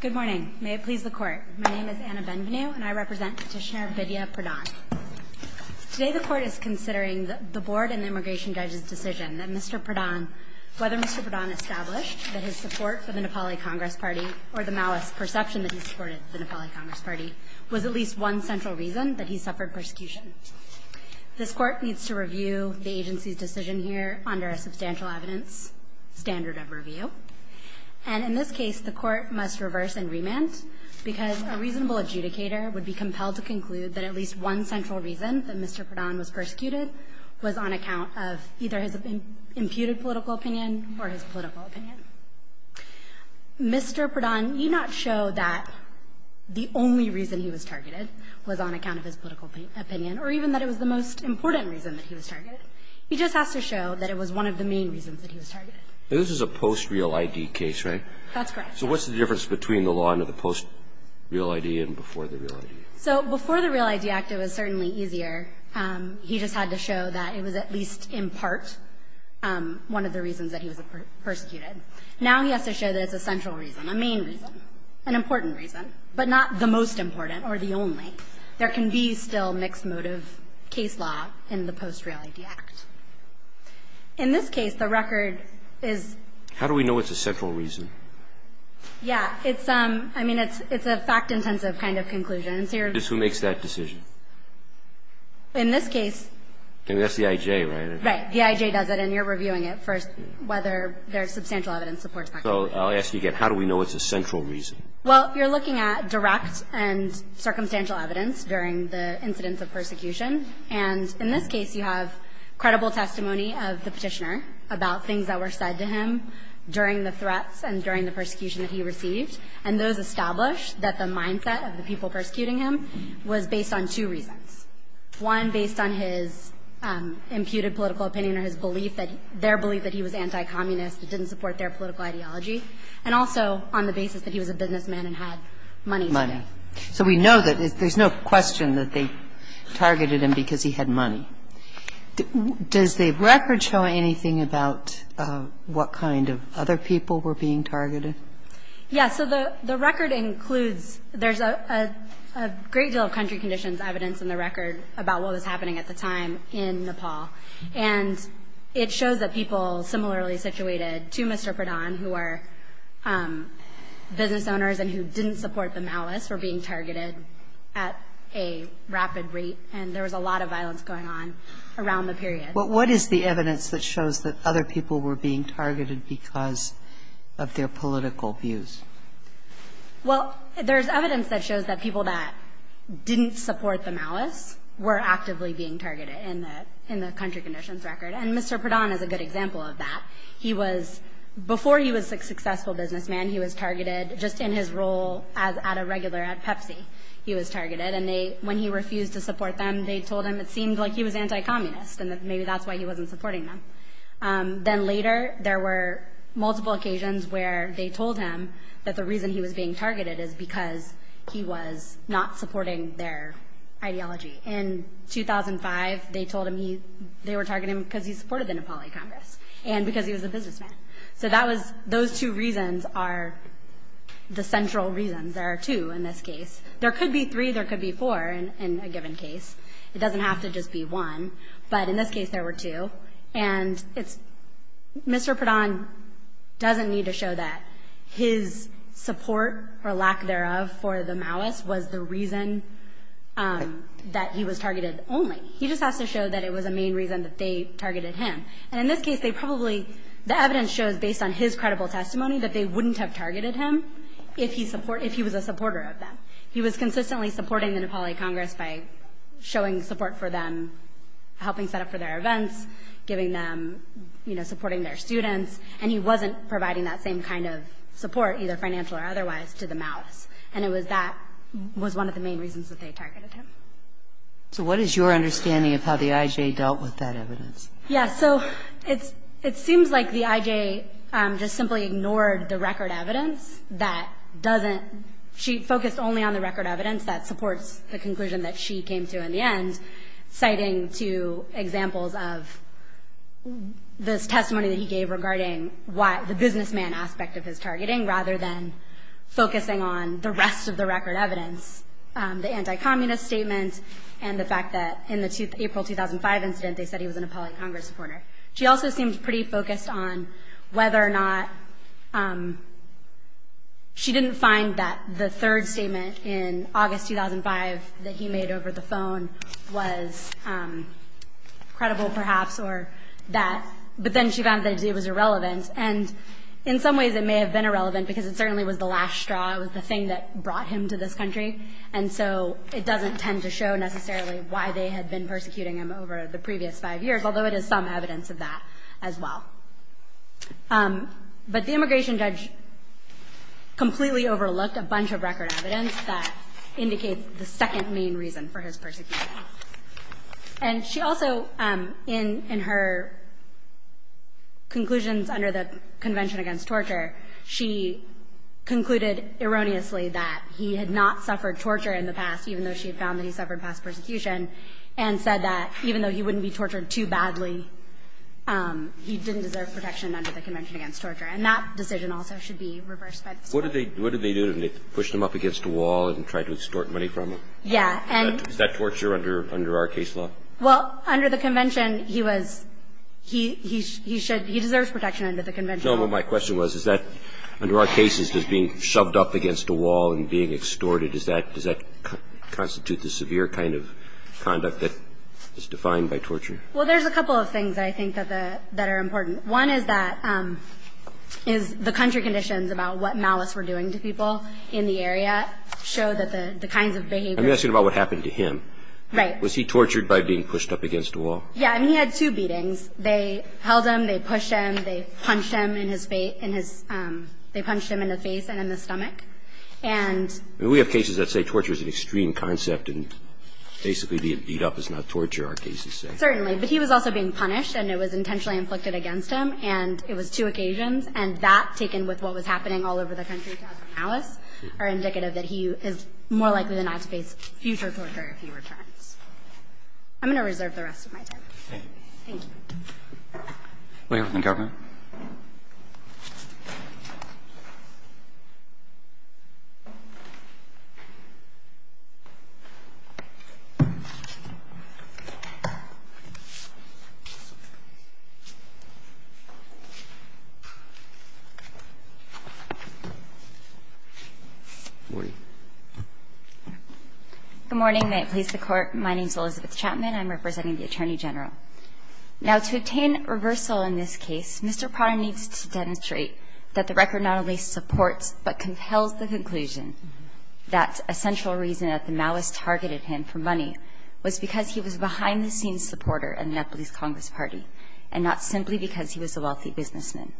Good morning. May it please the Court. My name is Anna Benvenue and I represent Petitioner Bidya Pradhan. Today the Court is considering the Board and the Immigration Judge's decision that Mr. Pradhan, whether Mr. Pradhan established that his support for the Nepali Congress Party or the malice perception that he supported the Nepali Congress Party was at least one central reason that he suffered persecution. This Court needs to review the agency's decision here under a substantial evidence standard of review. And in this case, the Court must reverse and remand because a reasonable adjudicator would be compelled to conclude that at least one central reason that Mr. Pradhan was persecuted was on account of either his imputed political opinion or his political opinion. Mr. Pradhan need not show that the only reason he was targeted was on account of his political opinion or even that it was the most important reason that he was targeted. He just has to show that it was one of the main reasons that he was targeted. This is a post-real ID case, right? That's correct. So what's the difference between the law under the post-real ID and before the real ID? So before the real ID Act, it was certainly easier. He just had to show that it was at least in part one of the reasons that he was persecuted. Now he has to show that it's a central reason, a main reason, an important reason, but not the most important or the only. There can be still mixed motive case law in the post-real ID Act. In this case, the record is How do we know it's a central reason? Yeah. It's, I mean, it's a fact-intensive kind of conclusion. Who makes that decision? In this case. That's the I.J., right? Right. The I.J. does it, and you're reviewing it first, whether there's substantial evidence supports that. So I'll ask you again. How do we know it's a central reason? Well, you're looking at direct and circumstantial evidence during the incidents of persecution. And in this case, you have credible testimony of the Petitioner about things that were said to him during the threats and during the persecution that he received. And those established that the mindset of the people persecuting him was based on two reasons. One, based on his imputed political opinion or his belief that their belief that he was anti-communist, it didn't support their political ideology, and also on the basis that he was a businessman and had money to do it. So we know that there's no question that they targeted him because he had money. Does the record show anything about what kind of other people were being targeted? Yes. So the record includes there's a great deal of country conditions evidence in the record about what was happening at the time in Nepal. And it shows that people similarly situated to Mr. Pradhan, who are business owners and who didn't support the malice, were being targeted at a rapid rate. And there was a lot of violence going on around the period. But what is the evidence that shows that other people were being targeted because of their political views? Well, there's evidence that shows that people that didn't support the malice were actively being targeted in the country conditions record, and Mr. Pradhan is a good example of that. Before he was a successful businessman, he was targeted just in his role at a regular at Pepsi. He was targeted. And when he refused to support them, they told him it seemed like he was anti-communist and that maybe that's why he wasn't supporting them. Then later, there were multiple occasions where they told him that the reason he was being targeted is because he was not supporting their ideology. In 2005, they told him they were targeting him because he supported the Nepali Congress and because he was a businessman. So those two reasons are the central reasons. There are two in this case. There could be three. There could be four in a given case. It doesn't have to just be one. But in this case, there were two. And Mr. Pradhan doesn't need to show that his support or lack thereof for the malice was the reason that he was targeted only. He just has to show that it was a main reason that they targeted him. And in this case, they probably the evidence shows based on his credible testimony that they wouldn't have targeted him if he was a supporter of them. He was consistently supporting the Nepali Congress by showing support for them, helping set up for their events, giving them, you know, supporting their students. And he wasn't providing that same kind of support, either financial or otherwise, to the malice. And that was one of the main reasons that they targeted him. So what is your understanding of how the IJ dealt with that evidence? Yeah, so it seems like the IJ just simply ignored the record evidence that doesn't she focused only on the record evidence that supports the conclusion that she came to in the end, citing two examples of this testimony that he gave regarding the businessman aspect of his targeting rather than focusing on the rest of the record evidence, the anti-communist statement and the fact that in the April 2005 incident they said he was a Nepali Congress supporter. She also seemed pretty focused on whether or not she didn't find that the third statement in August 2005 that he made over the phone was credible, perhaps, or that, but then she found that it was irrelevant. And in some ways it may have been irrelevant because it certainly was the last straw. It was the thing that brought him to this country. And so it doesn't tend to show necessarily why they had been persecuting him over the previous five years, although it is some evidence of that as well. But the immigration judge completely overlooked a bunch of record evidence that indicates the second main reason for his persecution. And she also, in her conclusions under the Convention Against Torture, she concluded erroneously that he had not suffered torture in the past, even though she had found that he suffered past persecution, and said that even though he wouldn't be tortured too badly, he didn't deserve protection under the Convention Against Torture. And that decision also should be reversed by the State. What did they do? Did they push him up against a wall and try to extort money from him? Yeah. Is that torture under our case law? No, but my question was, is that under our cases, does being shoved up against a wall and being extorted, does that constitute the severe kind of conduct that is defined by torture? Well, there's a couple of things I think that are important. One is that the country conditions about what malice we're doing to people in the area show that the kinds of behavior. I'm asking about what happened to him. Right. Was he tortured by being pushed up against a wall? Yeah. I mean, he had two beatings. They held him, they pushed him, they punched him in his face and in the stomach. And we have cases that say torture is an extreme concept and basically being beat up is not torture, our cases say. Certainly. But he was also being punished, and it was intentionally inflicted against him. And it was two occasions. And that, taken with what was happening all over the country to have malice, are indicative that he is more likely than not to face future torture if he returns. I'm going to reserve the rest of my time. Thank you. Thank you. We have the government. Good morning. May it please the Court. My name is Elizabeth Chapman. I'm representing the Attorney General. Now, to obtain reversal in this case, Mr. Prada needs to demonstrate that the record not only supports but compels the conclusion that a central reason that the malice targeted him for money was because he was a behind-the-scenes supporter in the Nepalese Congress Party and not simply because he was a wealthy businessman.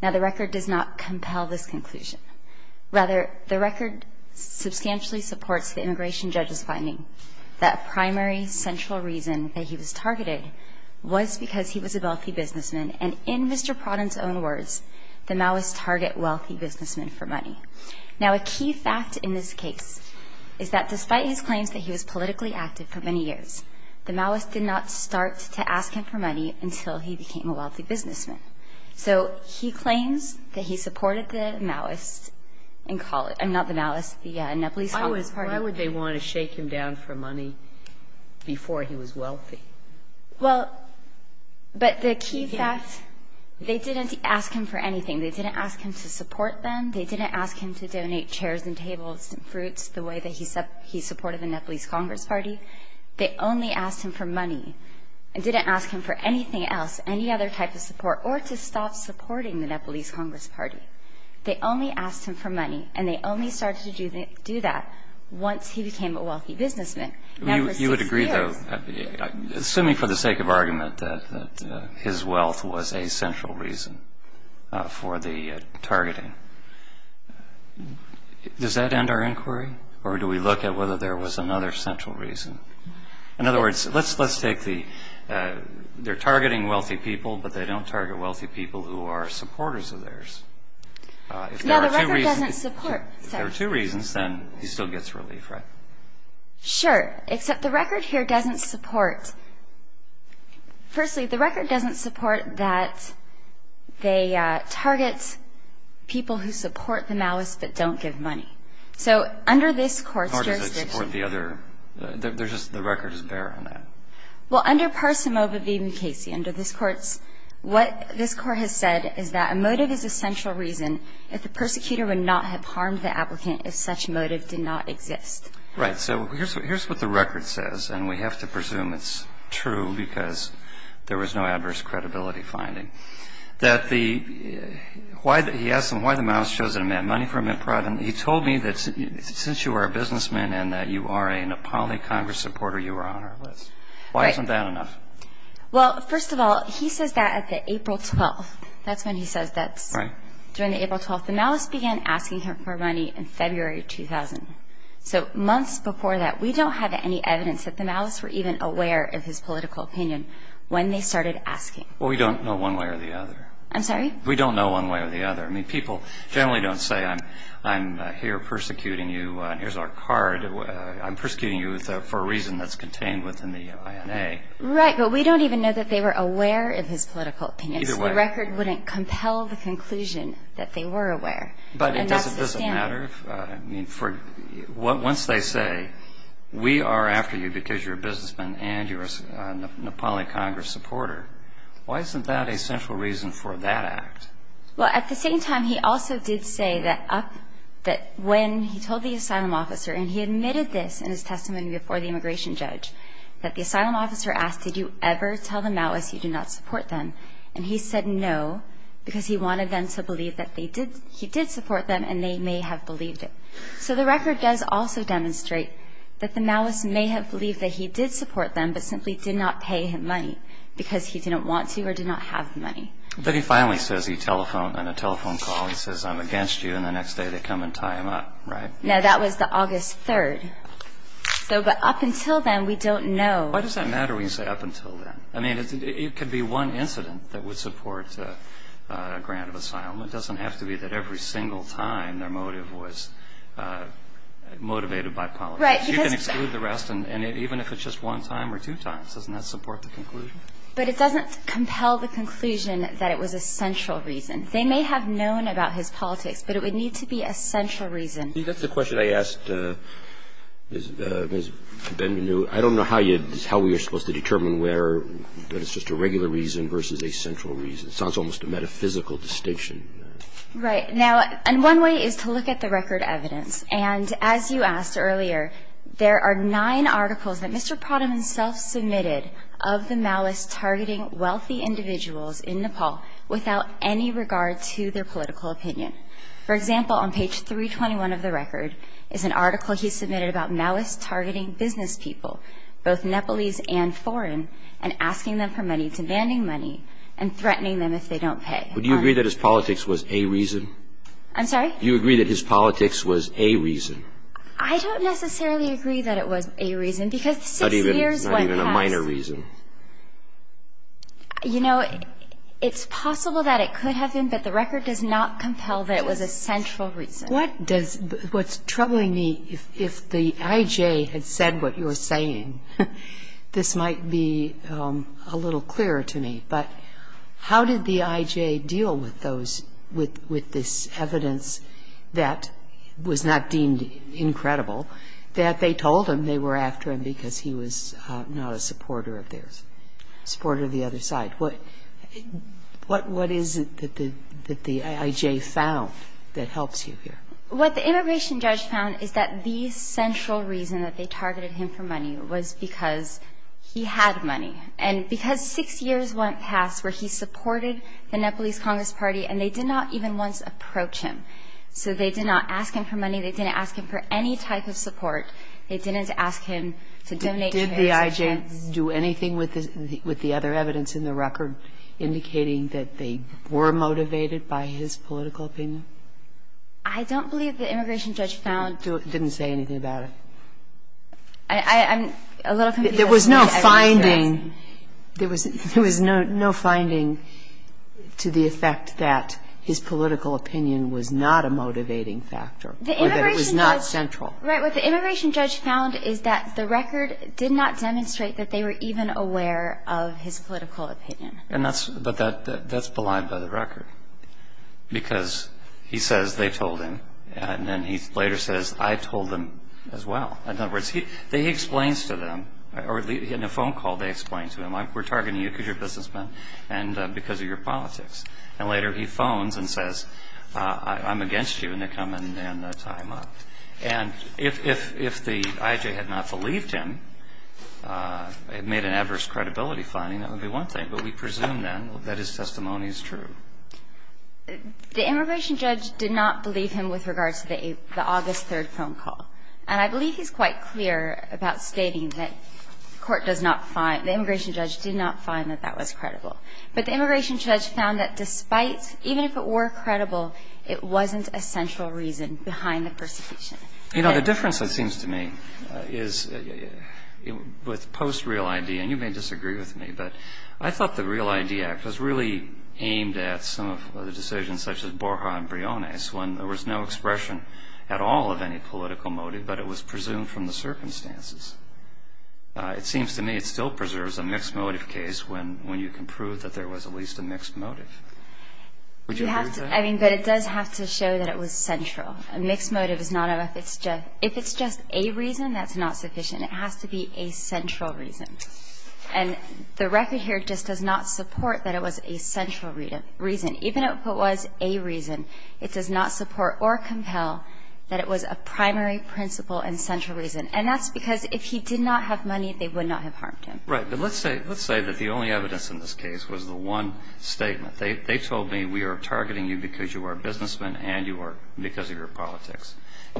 Now, the record does not compel this conclusion. Rather, the record substantially supports the immigration judge's finding that a primary central reason that he was targeted was because he was a wealthy businessman. And in Mr. Prada's own words, the malice target wealthy businessmen for money. Now, a key fact in this case is that despite his claims that he was politically active for many years, the malice did not start to ask him for money until he became a wealthy businessman. So he claims that he supported the malice in college. Not the malice, the Nepalese Congress Party. Why would they want to shake him down for money before he was wealthy? Well, but the key fact, they didn't ask him for anything. They didn't ask him to support them. They didn't ask him to donate chairs and tables and fruits the way that he supported the Nepalese Congress Party. They only asked him for money. They didn't ask him for anything else, any other type of support, or to stop supporting the Nepalese Congress Party. They only asked him for money, and they only started to do that once he became a wealthy businessman. You would agree, though, assuming for the sake of argument that his wealth was a central reason for the targeting. Does that end our inquiry, or do we look at whether there was another central reason? In other words, let's take the, they're targeting wealthy people, but they don't target wealthy people who are supporters of theirs. If there are two reasons, then he still gets relief, right? Sure, except the record here doesn't support, firstly, the record doesn't support that they target people who support the malice but don't give money. So under this Court's jurisdiction. How does it support the other? There's just, the record doesn't bear on that. Well, under Parsimova v. Mukasey, under this Court's, what this Court has said is that a motive is a central reason if the persecutor would not have harmed the applicant if such motive did not exist. Right. So here's what the record says, and we have to presume it's true because there was no adverse credibility finding. That the, why, he asked them why the malice shows in a man, money for a man privately. He told me that since you are a businessman and that you are a Nepali Congress supporter, you are on our list. Right. Why isn't that enough? Well, first of all, he says that at the April 12th. That's when he says that. Right. During the April 12th, the malice began asking him for money in February 2000. So months before that, we don't have any evidence that the malice were even aware of his political opinion when they started asking. Well, we don't know one way or the other. I'm sorry? We don't know one way or the other. I mean, people generally don't say, I'm here persecuting you, and here's our card. I'm persecuting you for a reason that's contained within the INA. Right, but we don't even know that they were aware of his political opinion. Either way. So the record wouldn't compel the conclusion that they were aware. But it doesn't matter. And that's the standard. Once they say, we are after you because you're a businessman and you're a Nepali Congress supporter, why isn't that a central reason for that act? Well, at the same time, he also did say that when he told the asylum officer, and he admitted this in his testimony before the immigration judge, that the asylum officer asked, did you ever tell the malice you do not support them? And he said no because he wanted them to believe that he did support them and they may have believed it. So the record does also demonstrate that the malice may have believed that he did support them but simply did not pay him money because he didn't want to or did not have the money. But he finally says he telephoned on a telephone call. He says, I'm against you. And the next day they come and tie him up, right? No, that was the August 3rd. But up until then, we don't know. Why does that matter when you say up until then? I mean, it could be one incident that would support a grant of asylum. It doesn't have to be that every single time their motive was motivated by politics. Right. You can exclude the rest, and even if it's just one time or two times, doesn't that support the conclusion? But it doesn't compel the conclusion that it was a central reason. They may have known about his politics, but it would need to be a central reason. See, that's the question I asked Ms. Ben-Nu. I don't know how we are supposed to determine where it's just a regular reason versus a central reason. It's almost a metaphysical distinction. Right. Now, and one way is to look at the record evidence. And as you asked earlier, there are nine articles that Mr. Pradhan himself submitted of the malice-targeting wealthy individuals in Nepal without any regard to their political opinion. For example, on page 321 of the record is an article he submitted about malice-targeting business people, both Nepalese and foreign, and asking them for money, demanding money, and threatening them if they don't pay. Would you agree that his politics was a reason? I'm sorry? Do you agree that his politics was a reason? I don't necessarily agree that it was a reason because six years went past. Not even a minor reason? You know, it's possible that it could have been, but the record does not compel that it was a central reason. What's troubling me, if the IJ had said what you're saying, this might be a little clearer to me, but how did the IJ deal with this evidence that was not deemed incredible, that they told him they were after him because he was not a supporter of the other side? What is it that the IJ found that helps you here? What the immigration judge found is that the central reason that they targeted him for money was because he had money. And because six years went past where he supported the Nepalese Congress Party, and they did not even once approach him, so they did not ask him for money, they didn't ask him for any type of support. They didn't ask him to donate shares. Did the IJ do anything with the other evidence in the record indicating that they were motivated by his political opinion? I don't believe the immigration judge found that. It didn't say anything about it? I'm a little confused. There was no finding. There was no finding to the effect that his political opinion was not a motivating factor. Or that it was not central. Right. What the immigration judge found is that the record did not demonstrate that they were even aware of his political opinion. But that's belied by the record. Because he says they told him, and then he later says I told them as well. In other words, he explains to them, or in a phone call they explain to him, we're targeting you because you're a businessman and because of your politics. And later he phones and says I'm against you and they come and tie him up. And if the IJ had not believed him, made an adverse credibility finding, that would be one thing. But we presume then that his testimony is true. The immigration judge did not believe him with regards to the August 3rd phone call. And I believe he's quite clear about stating that the court does not find, the immigration judge did not find that that was credible. But the immigration judge found that despite, even if it were credible, it wasn't a central reason behind the persecution. You know, the difference it seems to me is with post Real ID, and you may disagree with me, but I thought the Real ID Act was really aimed at some of the decisions such as Borja and Briones when there was no expression at all of any political motive, but it was presumed from the circumstances. It seems to me it still preserves a mixed motive case when you can prove that there was at least a mixed motive. Would you agree with that? I mean, but it does have to show that it was central. A mixed motive is not enough. If it's just a reason, that's not sufficient. It has to be a central reason. And the record here just does not support that it was a central reason. Even if it was a reason, it does not support or compel that it was a primary principle and central reason. And that's because if he did not have money, they would not have harmed him. Right. But let's say that the only evidence in this case was the one statement. They told me we are targeting you because you are a businessman and you are because of your politics.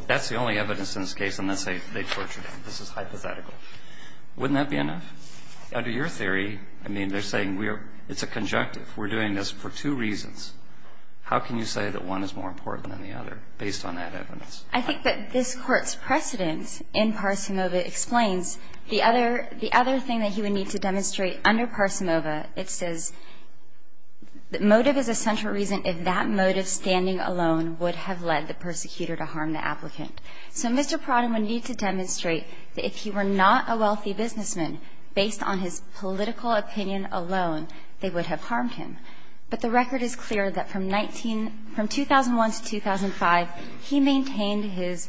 That's the only evidence in this case, and let's say they tortured him. This is hypothetical. Wouldn't that be enough? Under your theory, I mean, they're saying it's a conjunctive. We're doing this for two reasons. How can you say that one is more important than the other based on that evidence? I think that this Court's precedent in Parsimova explains the other thing that he would need to demonstrate under Parsimova. It says motive is a central reason if that motive, standing alone, would have led the persecutor to harm the applicant. So Mr. Prada would need to demonstrate that if he were not a wealthy businessman, based on his political opinion alone, they would have harmed him. But the record is clear that from 19 — from 2001 to 2005, he maintained his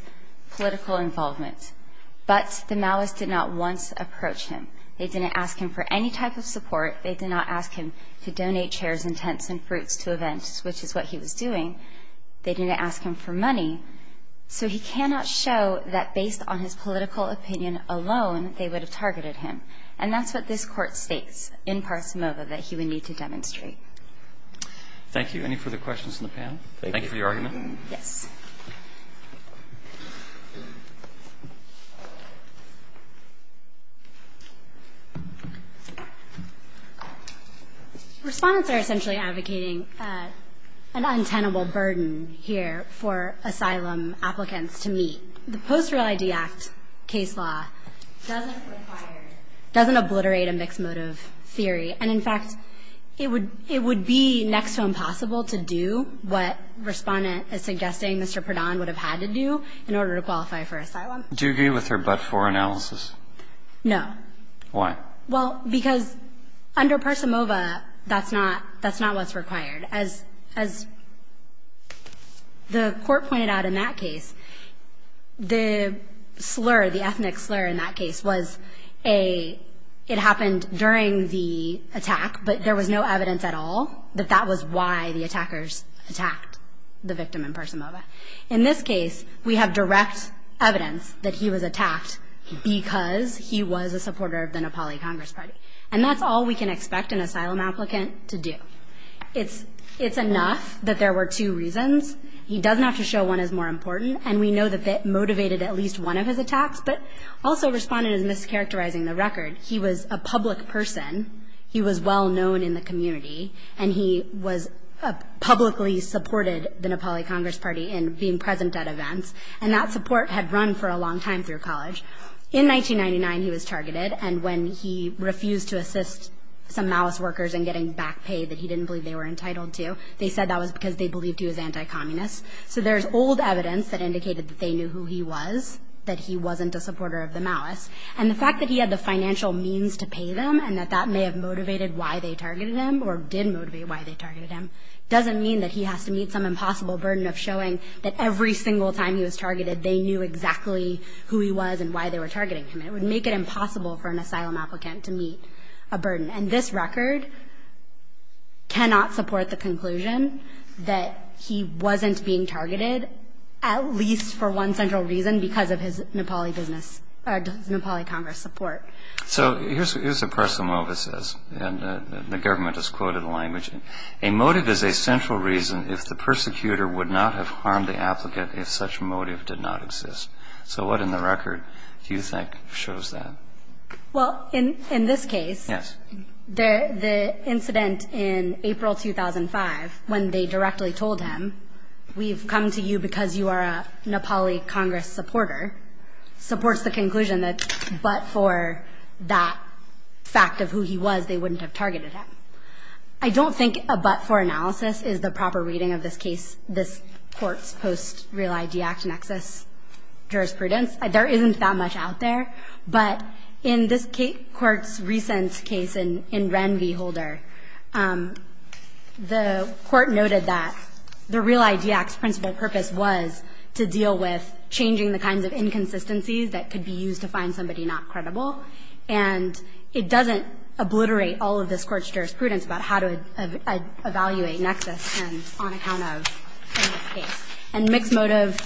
political involvement, but the Maoists did not once approach him. They didn't ask him for any type of support. They did not ask him to donate chairs and tents and fruits to events, which is what he was doing. They didn't ask him for money. So he cannot show that based on his political opinion alone, they would have targeted him. And that's what this Court states in Parsimova that he would need to demonstrate. Thank you. Any further questions from the panel? Thank you for your argument. Yes. Respondents are essentially advocating an untenable burden here for asylum applicants to meet. The Post-Real ID Act case law doesn't obliterate a mixed motive theory. And in fact, it would be next to impossible to do what Respondent is suggesting Mr. Prada would have had to do in order to qualify for asylum. Do you agree with her but-for analysis? No. Why? Well, because under Parsimova, that's not what's required. As the Court pointed out in that case, the slur, the ethnic slur in that case was it happened during the attack, but there was no evidence at all that that was why the attackers attacked the victim in Parsimova. In this case, we have direct evidence that he was attacked because he was a supporter of the Nepali Congress Party. And that's all we can expect an asylum applicant to do. It's enough that there were two reasons. He doesn't have to show one is more important. And we know that that motivated at least one of his attacks. But also Respondent is mischaracterizing the record. He was a public person. He was well-known in the community. And he publicly supported the Nepali Congress Party in being present at events. And that support had run for a long time through college. In 1999, he was targeted. And when he refused to assist some malice workers in getting back pay that he didn't believe they were entitled to, they said that was because they believed he was anti-communist. So there's old evidence that indicated that they knew who he was, that he wasn't a supporter of the malice. And the fact that he had the financial means to pay them and that that may have motivated why they targeted him or did motivate why they targeted him doesn't mean that he has to meet some impossible burden of showing that every single time he was targeted, they knew exactly who he was and why they were targeting him. It would make it impossible for an asylum applicant to meet a burden. And this record cannot support the conclusion that he wasn't being targeted, at least for one central reason, because of his Nepali business or his Nepali Congress support. So here's a person who always says, and the government has quoted the language, a motive is a central reason if the persecutor would not have harmed the applicant if such a motive did not exist. So what in the record do you think shows that? Well, in this case, the incident in April 2005 when they directly told him, we've come to you because you are a Nepali Congress supporter, supports the conclusion that but for that fact of who he was, they wouldn't have targeted him. I don't think a but for analysis is the proper reading of this case, this Court's Real ID Act nexus jurisprudence. There isn't that much out there, but in this Court's recent case in Ren v. Holder, the Court noted that the Real ID Act's principal purpose was to deal with changing the kinds of inconsistencies that could be used to find somebody not credible, and it doesn't obliterate all of this Court's jurisprudence about how to evaluate the real ID Act nexus on account of this case. And mixed motive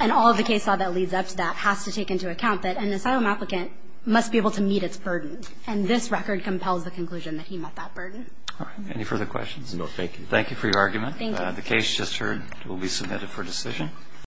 and all of the case law that leads up to that has to take into account that an asylum applicant must be able to meet its burden, and this record compels the conclusion that he met that burden. All right. Any further questions? No, thank you. Thank you for your argument. Thank you. The case just heard will be submitted for decision.